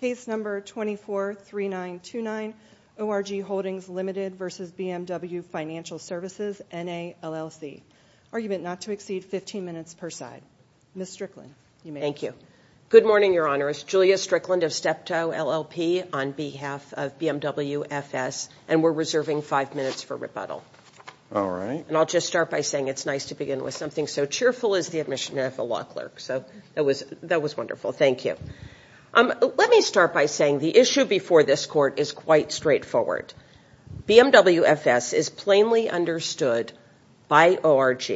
Case number 243929 ORG Holdings Ltd v. BMW Financial Services NA LLC. Argument not to exceed 15 minutes per side. Ms. Strickland, you may. Thank you. Good morning, Your Honor. It's Julia Strickland of Steptoe LLP on behalf of BMW FS, and we're reserving five minutes for rebuttal. All right. And I'll just start by saying it's nice to begin with something so cheerful as the admission of a law clerk, so that was wonderful. Thank you. Let me start by saying the issue before this court is quite straightforward. BMW FS is plainly understood by ORG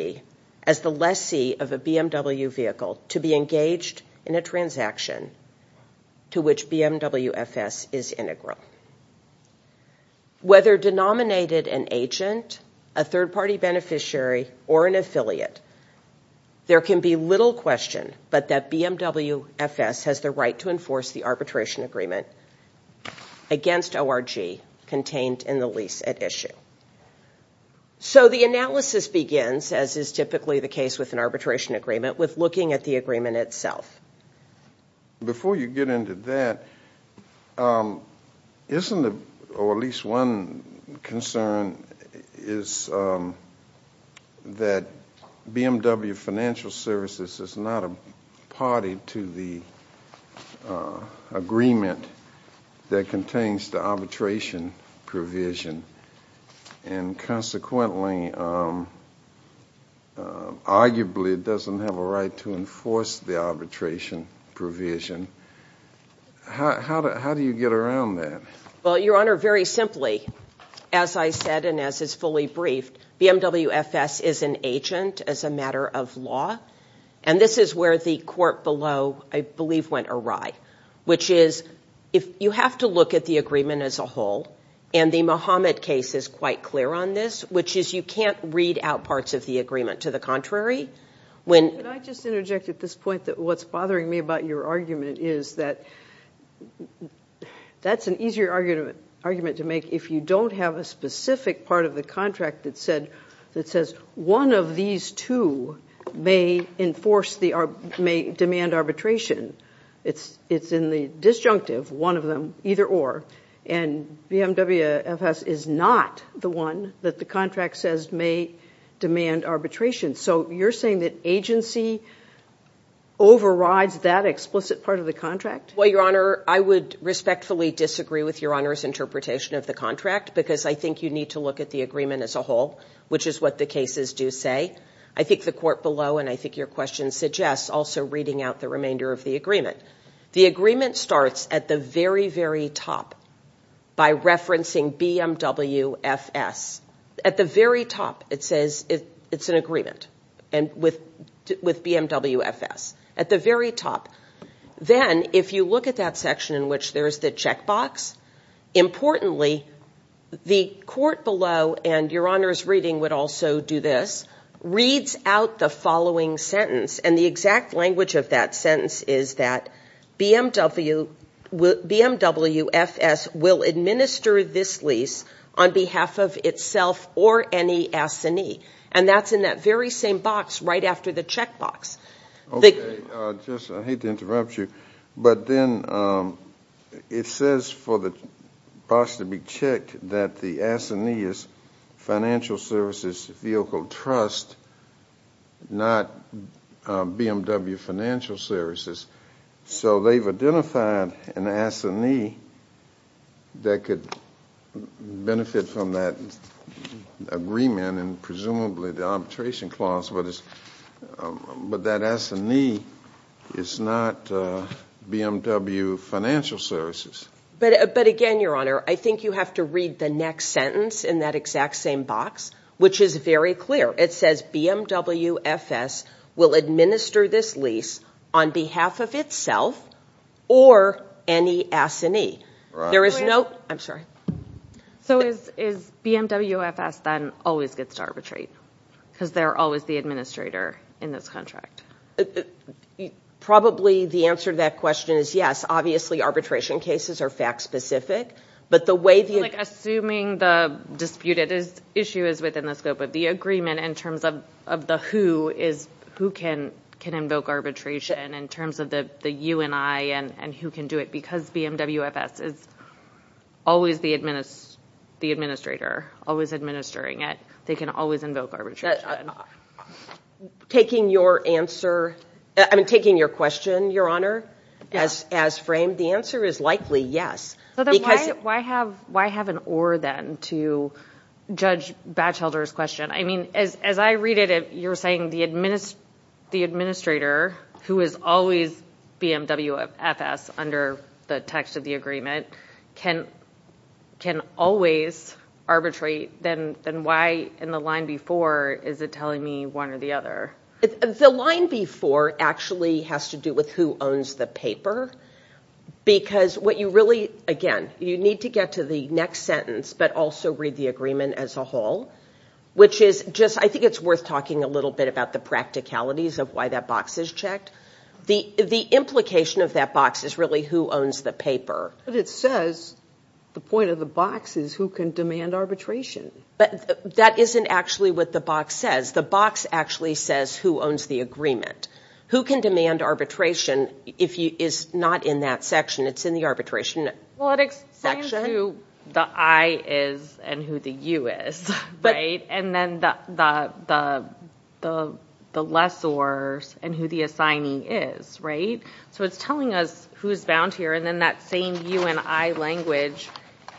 as the lessee of a BMW vehicle to be engaged in a transaction to which BMW FS is integral. Whether denominated an agent, a third-party beneficiary, or an affiliate, there can be little question but that BMW FS has the right to enforce the arbitration agreement against ORG contained in the lease at issue. So the analysis begins, as is typically the case with an arbitration agreement, with looking at the agreement itself. Before you get into that, isn't it, or at least one concern, is that BMW Financial Services is not a party to the agreement that contains the arbitration provision, and consequently, arguably, it doesn't have a right to enforce the arbitration provision. How do you get around that? Well, Your Honor, very simply, as I said and as is fully briefed, BMW FS is an agent as a matter of law, and this is where the court below, I believe, went awry, which is, you have to look at the agreement as a whole, and the Mohamed case is quite clear on this, which is you can't read out parts of the agreement. To the contrary, when... Can I just interject at this point that what's bothering me about your argument is that that's an easier argument to make if you don't have a specific part of the contract that says one of these two may demand arbitration. It's in the disjunctive, one of them, either or, and BMW FS is not the one that the contract says may demand arbitration. So you're saying that agency overrides that explicit part of the contract? Well, Your Honor, I would respectfully disagree with Your Honor's interpretation of the contract, because I think you need to look at the agreement as a whole, which is what the cases do say. I think your question suggests also reading out the remainder of the agreement. The agreement starts at the very, very top by referencing BMW FS. At the very top, it says it's an agreement with BMW FS, at the very top. Then, if you look at that section in which there's the checkbox, importantly, the court below, and Your Honor's reading would also do this, reads out the following sentence, and the exact language of that sentence is that BMW FS will administer this lease on behalf of itself or any S&E, and that's in that very same box right after the checkbox. Okay, I hate to interrupt you, but then it says for the box to be checked that the S&E is Financial Services Vehicle Trust, not BMW Financial Services. So they've identified an S&E that could benefit from that agreement, and presumably the arbitration clause, but that S&E is not BMW Financial Services. But again, Your Honor, I think you have to read the next sentence in that exact same box, which is very clear. It says BMW FS will administer this lease on behalf of itself or any S&E. There is no, I'm sorry. So is BMW FS then always gets to arbitrate, because they're always the administrator in this contract? Probably the answer to that question is yes. Obviously, arbitration cases are fact-specific, but the way the... Like assuming the disputed issue is within the scope of the agreement in terms of the who, is who can invoke arbitration in terms of the you and I and who can do it, because BMW FS is always the administrator, always administering it. They can always invoke arbitration. Taking your answer, I mean, taking your question, Your Honor, as framed, the answer is likely yes. Why have an or then to judge Batchelder's question? I mean, as I read it, you're saying the administrator, who is always BMW FS under the text of the agreement, can always arbitrate. Then why in the line before, is it telling me one or the other? The line before actually has to do with who owns the paper, because what you really, again, you need to get to the next sentence, but also read the agreement as a whole, which is just, I think it's worth talking a little bit about the practicalities of why that box is checked. The implication of that box is really who owns the paper. But it says, the point of the box is who can demand arbitration. But that isn't actually what the box says. The box actually says who owns the agreement. Who can demand arbitration is not in that section. It's in the arbitration section. It explains who the I is and who the U is, right? And then the lessors and who the assignee is, right? So it's telling us who's bound here. And then that same U and I language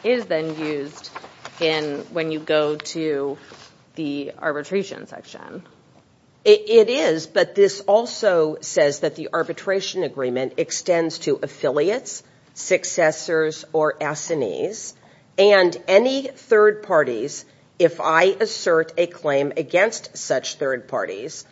is then used when you go to the arbitration section. It is, but this also says that the arbitration agreement extends to affiliates, successors or assignees, and any third parties, if I assert a claim against such third parties,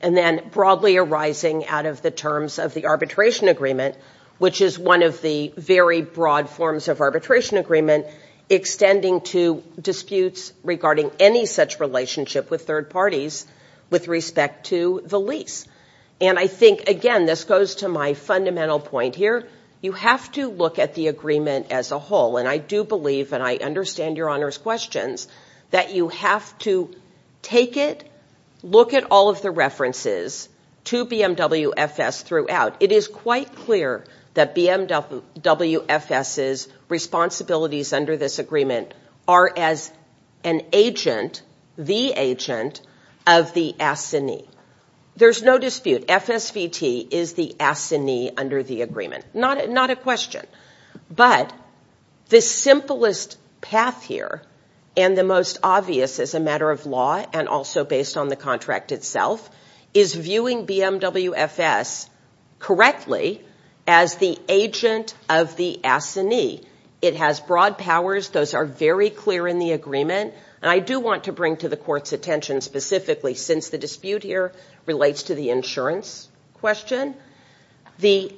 and then broadly arising out of the terms of the arbitration agreement, which is one of the very broad forms of arbitration agreement, extending to disputes regarding any such relationship with third parties with respect to the lease. And I think, again, this goes to my fundamental point here. You have to look at the agreement as a whole. And I do believe, and I understand Your Honor's questions, that you have to take it, look at all of the references to BMWFS throughout. It is quite clear that BMWFS's responsibilities under this agreement are as an agent, the agent of the assignee. There's no dispute. FSVT is the assignee under the agreement. Not a question. But the simplest path here and the most obvious as a matter of law and also based on the contract itself is viewing BMWFS correctly as the agent of the assignee. It has broad powers. Those are very clear in the agreement. And I do want to bring to the Court's attention specifically, since the dispute here relates to the insurance question, the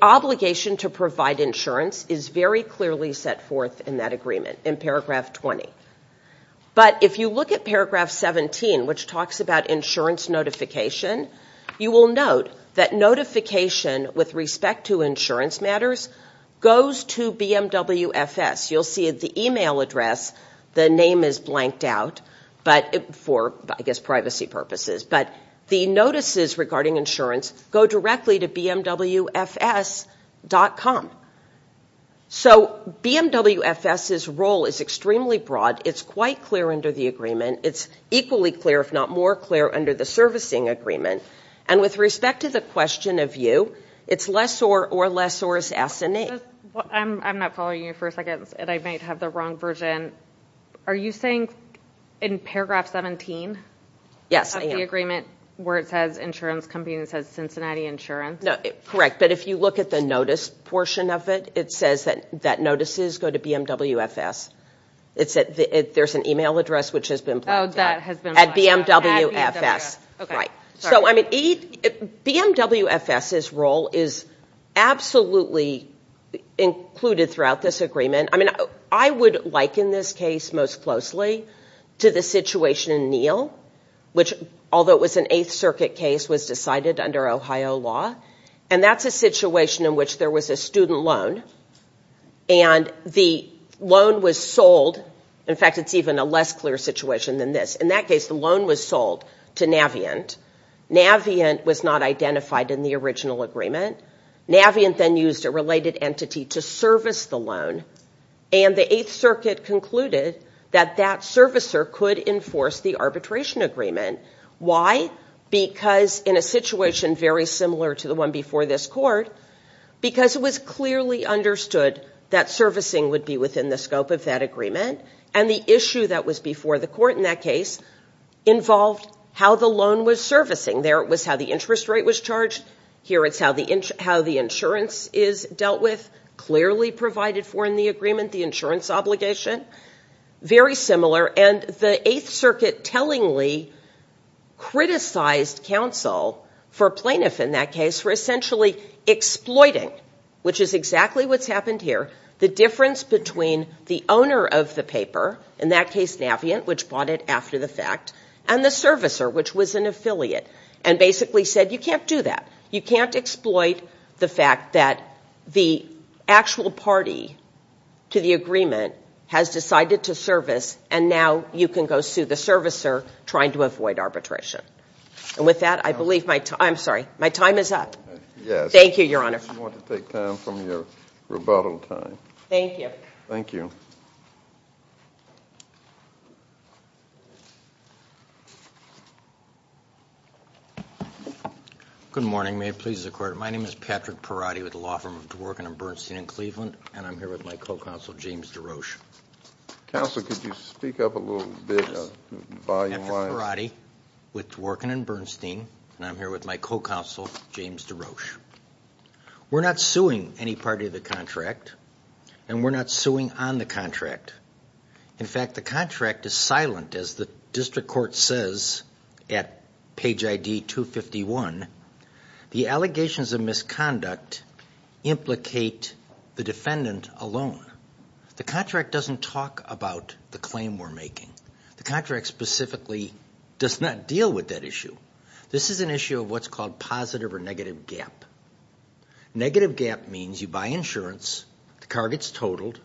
obligation to provide insurance is very clearly set forth in that agreement in paragraph 20. But if you look at paragraph 17, which talks about insurance notification, you will note that notification with respect to insurance matters goes to BMWFS. You'll see at the email address the name is blanked out for, I guess, privacy purposes. But the notices regarding insurance go directly to BMWFS.com. So BMWFS's role is extremely broad. It's quite clear under the agreement. It's equally clear, if not more clear, under the servicing agreement. And with respect to the question of you, it's lessor or lessor's assignee. I'm not following you for a second and I might have the wrong version. Are you saying in paragraph 17 of the agreement where it says insurance company and it says Cincinnati Insurance? No, correct. But if you look at the notice portion of it, it says that notices go to BMWFS. There's an email address which has been blanked out at BMWFS. BMWFS's role is absolutely included throughout this agreement. I would liken this case most closely to the situation in Neal, which, although it was an Eighth Circuit case, was decided under Ohio law. And that's a situation in which there was a loan. And the loan was sold. In fact, it's even a less clear situation than this. In that case, the loan was sold to Navient. Navient was not identified in the original agreement. Navient then used a related entity to service the loan. And the Eighth Circuit concluded that that servicer could enforce the arbitration agreement. Why? Because in a situation very similar to the one before this court, because it was clearly understood that servicing would be within the scope of that agreement. And the issue that was before the court in that case involved how the loan was servicing. There it was how the interest rate was charged. Here it's how the insurance is dealt with, clearly provided for in the agreement, the insurance obligation. Very similar. And the Eighth Circuit tellingly criticized counsel, for plaintiff in that case, for essentially exploiting, which is exactly what's happened here, the difference between the owner of the paper, in that case Navient, which bought it after the fact, and the servicer, which was an affiliate, and basically said, you can't do that. You can't exploit the fact that the actual party to the agreement has decided to service, and now you can go sue the servicer, trying to avoid arbitration. And with that, I believe my time, I'm sorry, my time is up. Yes. Thank you, Your Honor. If you want to take time from your rebuttal time. Thank you. Thank you. Good morning. May it please the Court. My name is Patrick Perotti with the law firm of Dworkin and Bernstein in Cleveland, and I'm here with my co-counsel James DeRoche. Counsel, could you speak up a little bit, volume wise? Patrick Perotti with Dworkin and Bernstein, and I'm here with my co-counsel James DeRoche. We're not suing any party of the contract, and we're not suing on the contract. In fact, the contract is silent, as the district court says at page ID 251. The allegations of misconduct implicate the defendant alone. The contract doesn't talk about the claim we're making. The contract specifically does not deal with that issue. This is an issue of what's called positive or negative gap. Negative gap means you buy insurance, the car gets totaled,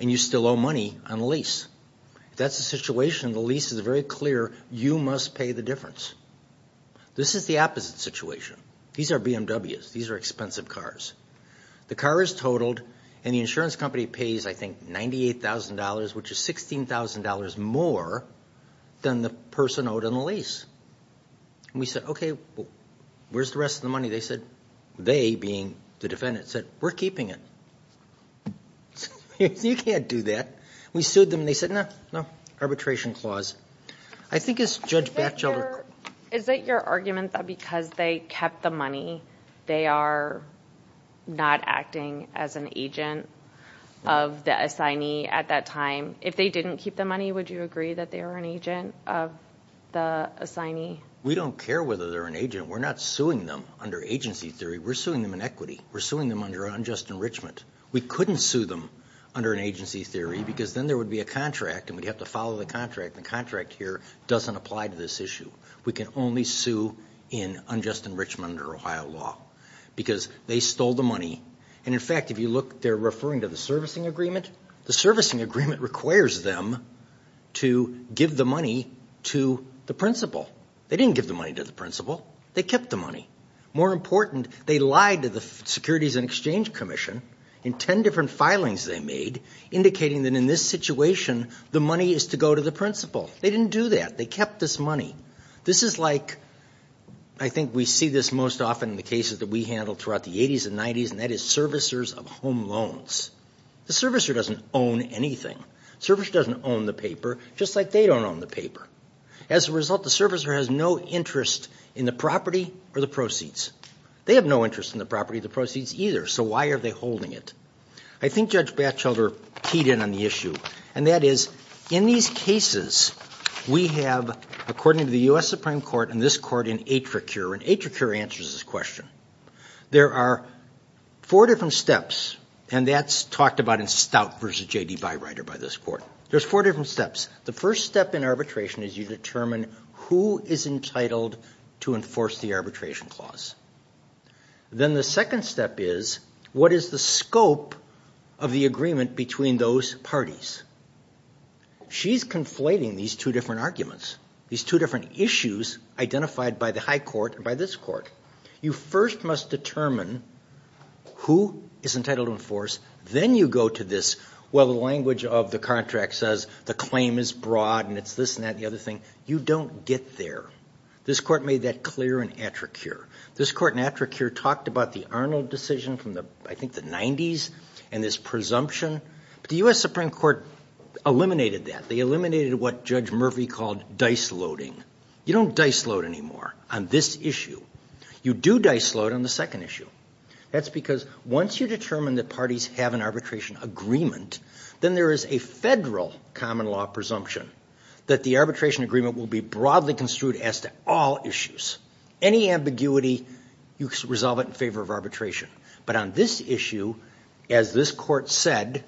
and you still owe money on the lease. If that's the situation, the lease is very clear, you must pay the difference. This is the opposite situation. These are BMWs. These are expensive cars. The car is totaled, and the insurance company pays, I think, $98,000, which is $16,000 more than the person owed on the lease. And we said, okay, well, where's the rest of the money? They said, they being the defendant, said, we're keeping it. You can't do that. We sued them, and they said, no, no, arbitration clause. I think it's Judge Batchelder. Is it your argument that because they kept the money, they are not acting as an agent of the assignee at that time? If they didn't keep the money, would you agree that they were an agent of the assignee? We don't care whether they're an agent. We're not suing them under agency theory. We're suing them in equity. We're suing them under unjust enrichment. We couldn't sue them under an agency theory, because then there would be a contract, and we'd have to follow the contract. The contract here doesn't apply to this issue. We can only sue in unjust enrichment under Ohio law, because they stole the money. And in fact, if you look, they're referring to the servicing agreement. The servicing agreement requires them to give the money to the principal. They didn't give the money to the principal. They kept the money. More important, they lied to the Securities and Exchange Commission in ten different filings they made, indicating that in this situation, the money is to go to the principal. They didn't do that. They kept this money. This is like, I think we see this most often in the cases that we handle throughout the 80s and 90s, and that is servicers of home loans. The servicer doesn't own anything. The servicer doesn't own the paper, just like they don't own the paper. As a result, the servicer has no interest in the property or the proceeds. They have no interest in the property or the proceeds either, so why are they holding it? I think Judge Batchelder keyed in on the issue, and that is, in these cases, we have, according to the U.S. Supreme Court and this court in Attracure, and Attracure answers this question. There are four different steps, and that's talked about in Stout v. J.D. Beireiter by this court. There's four different steps. The first step in arbitration is you determine who is entitled to enforce the arbitration clause. Then the second step is, what is the scope of the agreement between those parties? She's conflating these two different arguments, these two different issues identified by the high court and by this court. You first must determine who is entitled to enforce. Then you go to this, well, the language of the contract says the claim is broad, and it's this and that and the other thing. You don't get there. This court made that clear in Attracure. This court in Attracure talked about the Arnold decision from, I think, the 90s and this presumption. The U.S. Supreme Court eliminated that. They eliminated what Judge Murphy called dice-loading. You don't dice-load anymore on this issue. You do dice-load on the second issue. That's because once you determine that parties have an arbitration agreement, then there is a federal common law presumption that the arbitration agreement will be broadly construed as to all issues. Any ambiguity, you resolve it in favor of arbitration. But on this issue, as this court said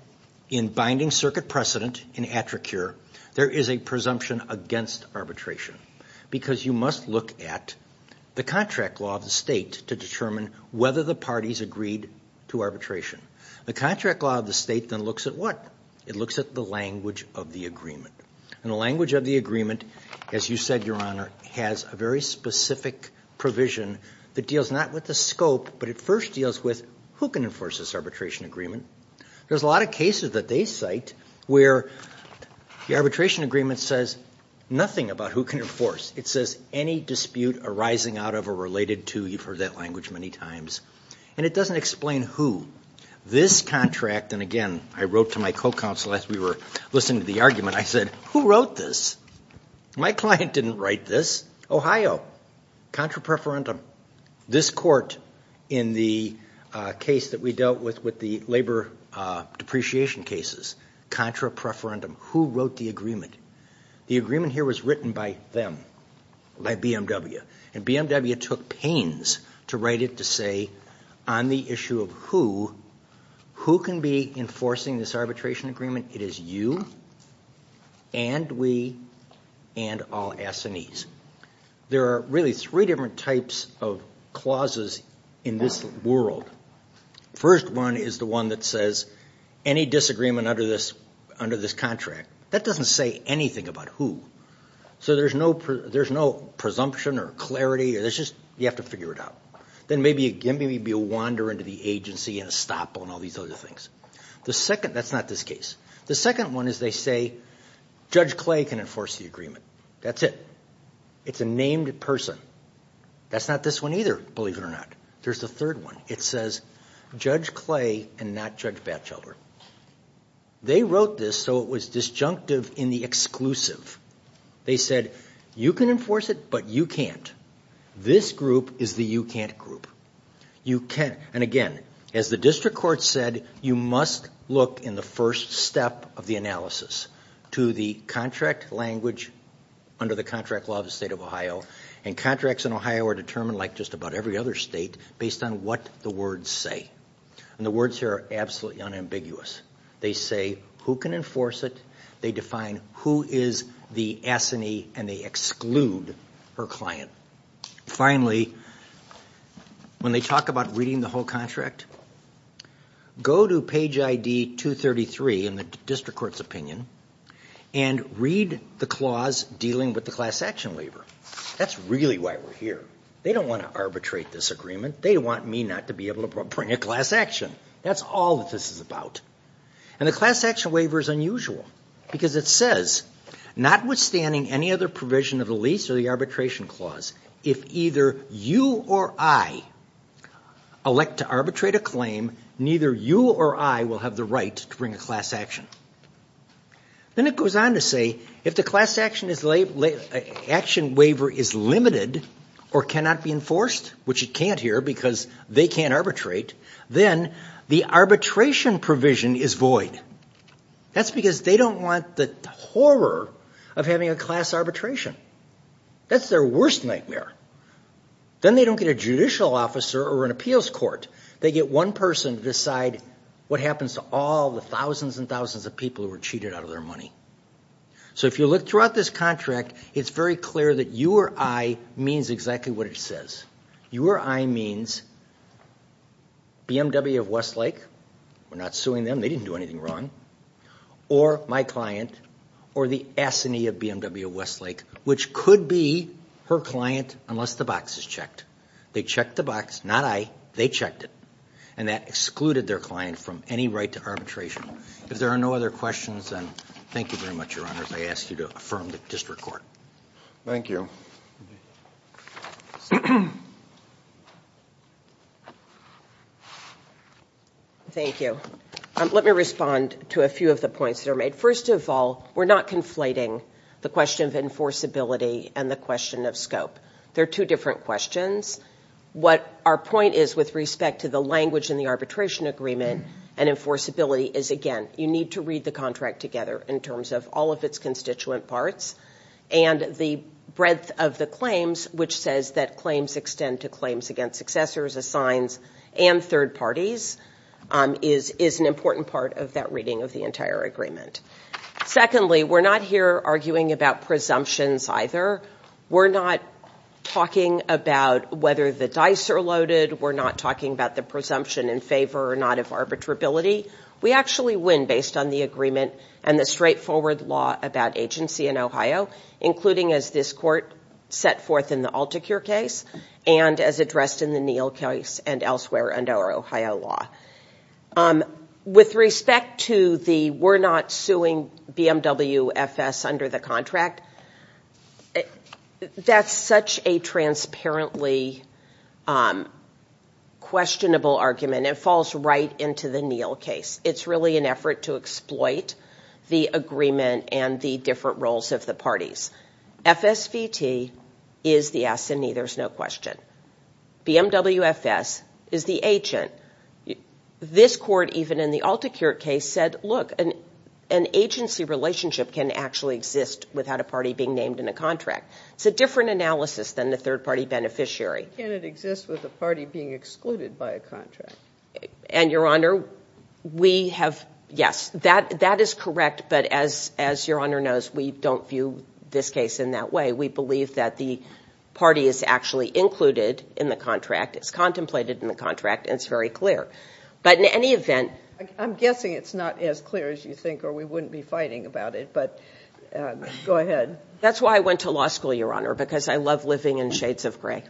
in binding circuit precedent in Attracure, there is a presumption against arbitration because you must look at the contract law of the state to determine whether the parties agreed to arbitration. The contract law of the state then looks at what? It looks at the language of the agreement. And the language of the agreement, as you said, Your Honor, has a very specific provision that deals not with the scope, but it first deals with who can enforce this arbitration agreement. There's a lot of cases that they cite where the arbitration agreement says nothing about who can enforce. It says any dispute arising out of or related to, you've And it doesn't explain who. This contract, and again, I wrote to my co-counsel as we were listening to the argument, I said, Who wrote this? My client didn't write this. Ohio. Contra preferendum. This court in the case that we dealt with with the labor depreciation cases. Contra preferendum. Who wrote the agreement? The agreement here was written by them. By BMW. And BMW took pains to write it to say on the issue of who, who can be enforcing this arbitration agreement? It is you and we and all S&Es. There are really three different types of clauses in this world. First one is the one that says any disagreement under this contract. That doesn't say about who. So there's no presumption or clarity. You have to figure it out. Then maybe a wander into the agency and a stop on all these other things. That's not this case. The second one is they say Judge Clay can enforce the agreement. That's it. It's a named person. That's not this one either, believe it or not. There's the third one. It says Judge Clay and not Judge Batchelder. They wrote this so it was disjunctive in the exclusive. They said you can enforce it but you can't. This group is the you can't group. And again, as the district court said, you must look in the first step of the analysis to the contract language under the contract law of the state of Ohio. And contracts in Ohio are determined like just about every other state based on what the say. And the words here are absolutely unambiguous. They say who can enforce it. They define who is the S&E and they exclude her client. Finally, when they talk about reading the whole contract, go to page ID 233 in the district court's opinion and read the clause dealing with the class action waiver. That's really why we're here. They don't want to bring a class action. That's all that this is about. And the class action waiver is unusual because it says notwithstanding any other provision of the lease or the arbitration clause, if either you or I elect to arbitrate a claim, neither you or I will have the right to bring a class action. Then it goes on to say if the class action waiver is limited or cannot be enforced, which it can't here because they can't arbitrate, then the arbitration provision is void. That's because they don't want the horror of having a class arbitration. That's their worst nightmare. Then they don't get a judicial officer or an appeals court. They get one person to decide what happens to all the thousands and thousands of people who are cheated out of their money. So if you look throughout this contract, it's very clear that you or I means exactly what it says. You or I means BMW of Westlake, we're not suing them, they didn't do anything wrong, or my client, or the S&E of BMW of Westlake, which could be her client unless the box is checked. They checked the box, not I, they checked it. And that excluded their client from any right to arbitration. If there are no other questions, thank you very much, your honors. I ask you to affirm the district court. Thank you. Thank you. Let me respond to a few of the points that are made. First of all, we're not conflating the question of enforceability and the question of scope. They're two different questions. What our point is with respect to the language in the arbitration agreement and enforceability is, again, you need to read the contract together in terms of all of its constituent parts. And the breadth of the claims, which says that claims extend to claims against successors, assigns, and third parties, is an important part of that reading of the entire agreement. Secondly, we're not here arguing about presumptions either. We're not talking about whether the dice are loaded. We're not talking about the presumption in favor or not of arbitrability. We actually win based on the agreement and the straightforward law about agency in Ohio, including as this court set forth in the Altecure case and as addressed in the Neal case and elsewhere under our Ohio law. With respect to the we're not suing BMW FS under the contract, that's such a transparently questionable argument. It falls right into the Neal case. It's really an effort to exploit the agreement and the different roles of the parties. FSVT is the assignee, there's no question. BMW FS is the agent. This court, even in the Altecure case, said, look, an agency relationship can actually exist without a party being named in a contract. It's a different analysis than the third party beneficiary. Can it exist with a party being excluded by a contract? And your honor, we have, yes, that is correct, but as your honor knows, we don't view this case in that way. We believe that the party is actually included in the contract, it's contemplated in the contract, and it's very clear. But in any event, I'm guessing it's not as clear as you think or we wouldn't be fighting about it, but go ahead. That's why I went to law school, your honor, because I love living in shades of gray.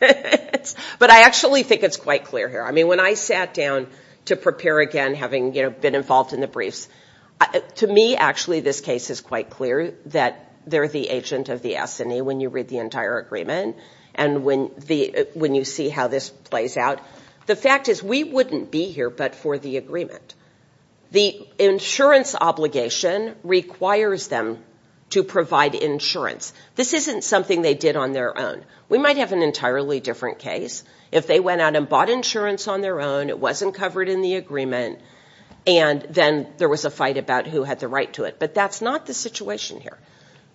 But I actually think it's quite clear here. I mean, when I sat down to prepare again, having, you know, been involved in the briefs, to me, actually, this case is quite clear that they're the agent of the assignee when you read the entire agreement. And when you see how this plays out, the fact is we wouldn't be here but for the agreement. The insurance obligation requires them to provide insurance. This isn't something they did on their own. We might have an entirely different case if they went out and bought insurance on their own, it wasn't covered in the agreement, and then there was a fight about who had the right to it. But that's not the situation here.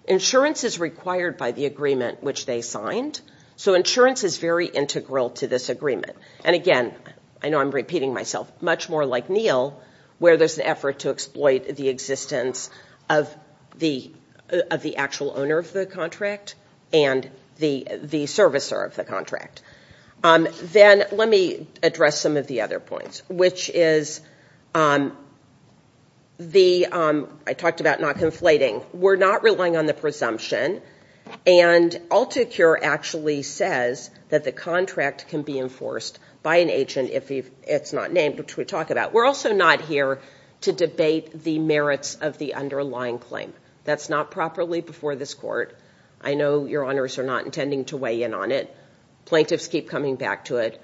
Insurance is required by the agreement which they signed, so insurance is very integral to this agreement. And again, I know I'm much more like Neil, where there's an effort to exploit the existence of the actual owner of the contract and the servicer of the contract. Then let me address some of the other points, which is the, I talked about not conflating. We're not relying on the presumption, and Alticure actually says that the contract can be enforced by an agent if it's not named, which we talked about. We're also not here to debate the merits of the underlying claim. That's not properly before this court. I know your honors are not intending to weigh in on it. Plaintiffs keep coming back to it,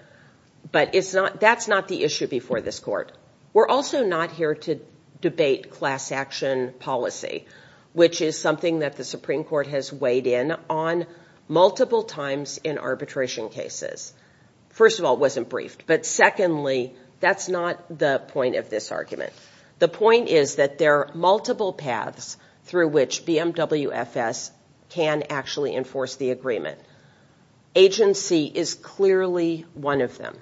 but that's not the issue before this court. We're also not here to debate class action policy, which is something that the Supreme Court has weighed in on multiple times in arbitration cases. First of all, it wasn't briefed, but secondly, that's not the point of this argument. The point is that there are multiple paths through which BMWFS can actually enforce the agreement. Agency is clearly one of them.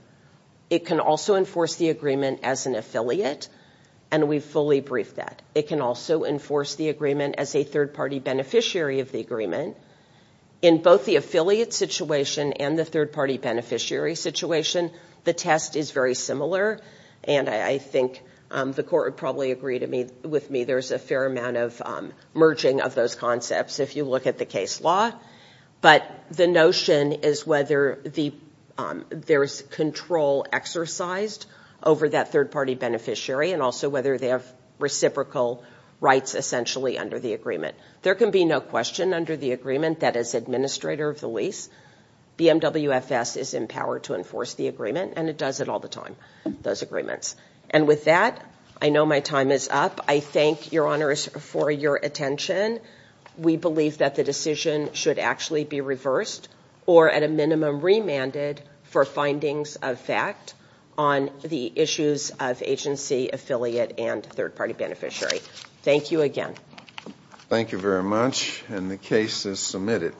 It can also enforce the agreement as an affiliate, and we fully briefed that. It can also enforce the agreement as a third-party beneficiary of the agreement. In both the affiliate situation and the third-party beneficiary situation, the test is very similar, and I think the court would probably agree with me. There's a fair amount of merging of those concepts if you look at the case law, but the notion is whether there's control exercised over that third-party beneficiary and also whether they have reciprocal rights, essentially, under the agreement. There can be no question under the agreement that as administrator of the lease, BMWFS is empowered to enforce the agreement, and it does it all the time, those agreements. With that, I know my time is up. I thank your honors for your attention. We believe that the decision should actually be reversed or at a minimum remanded for findings of fact on the issues of agency, affiliate, and third-party beneficiary. Thank you again. Thank you very much, and the case is submitted.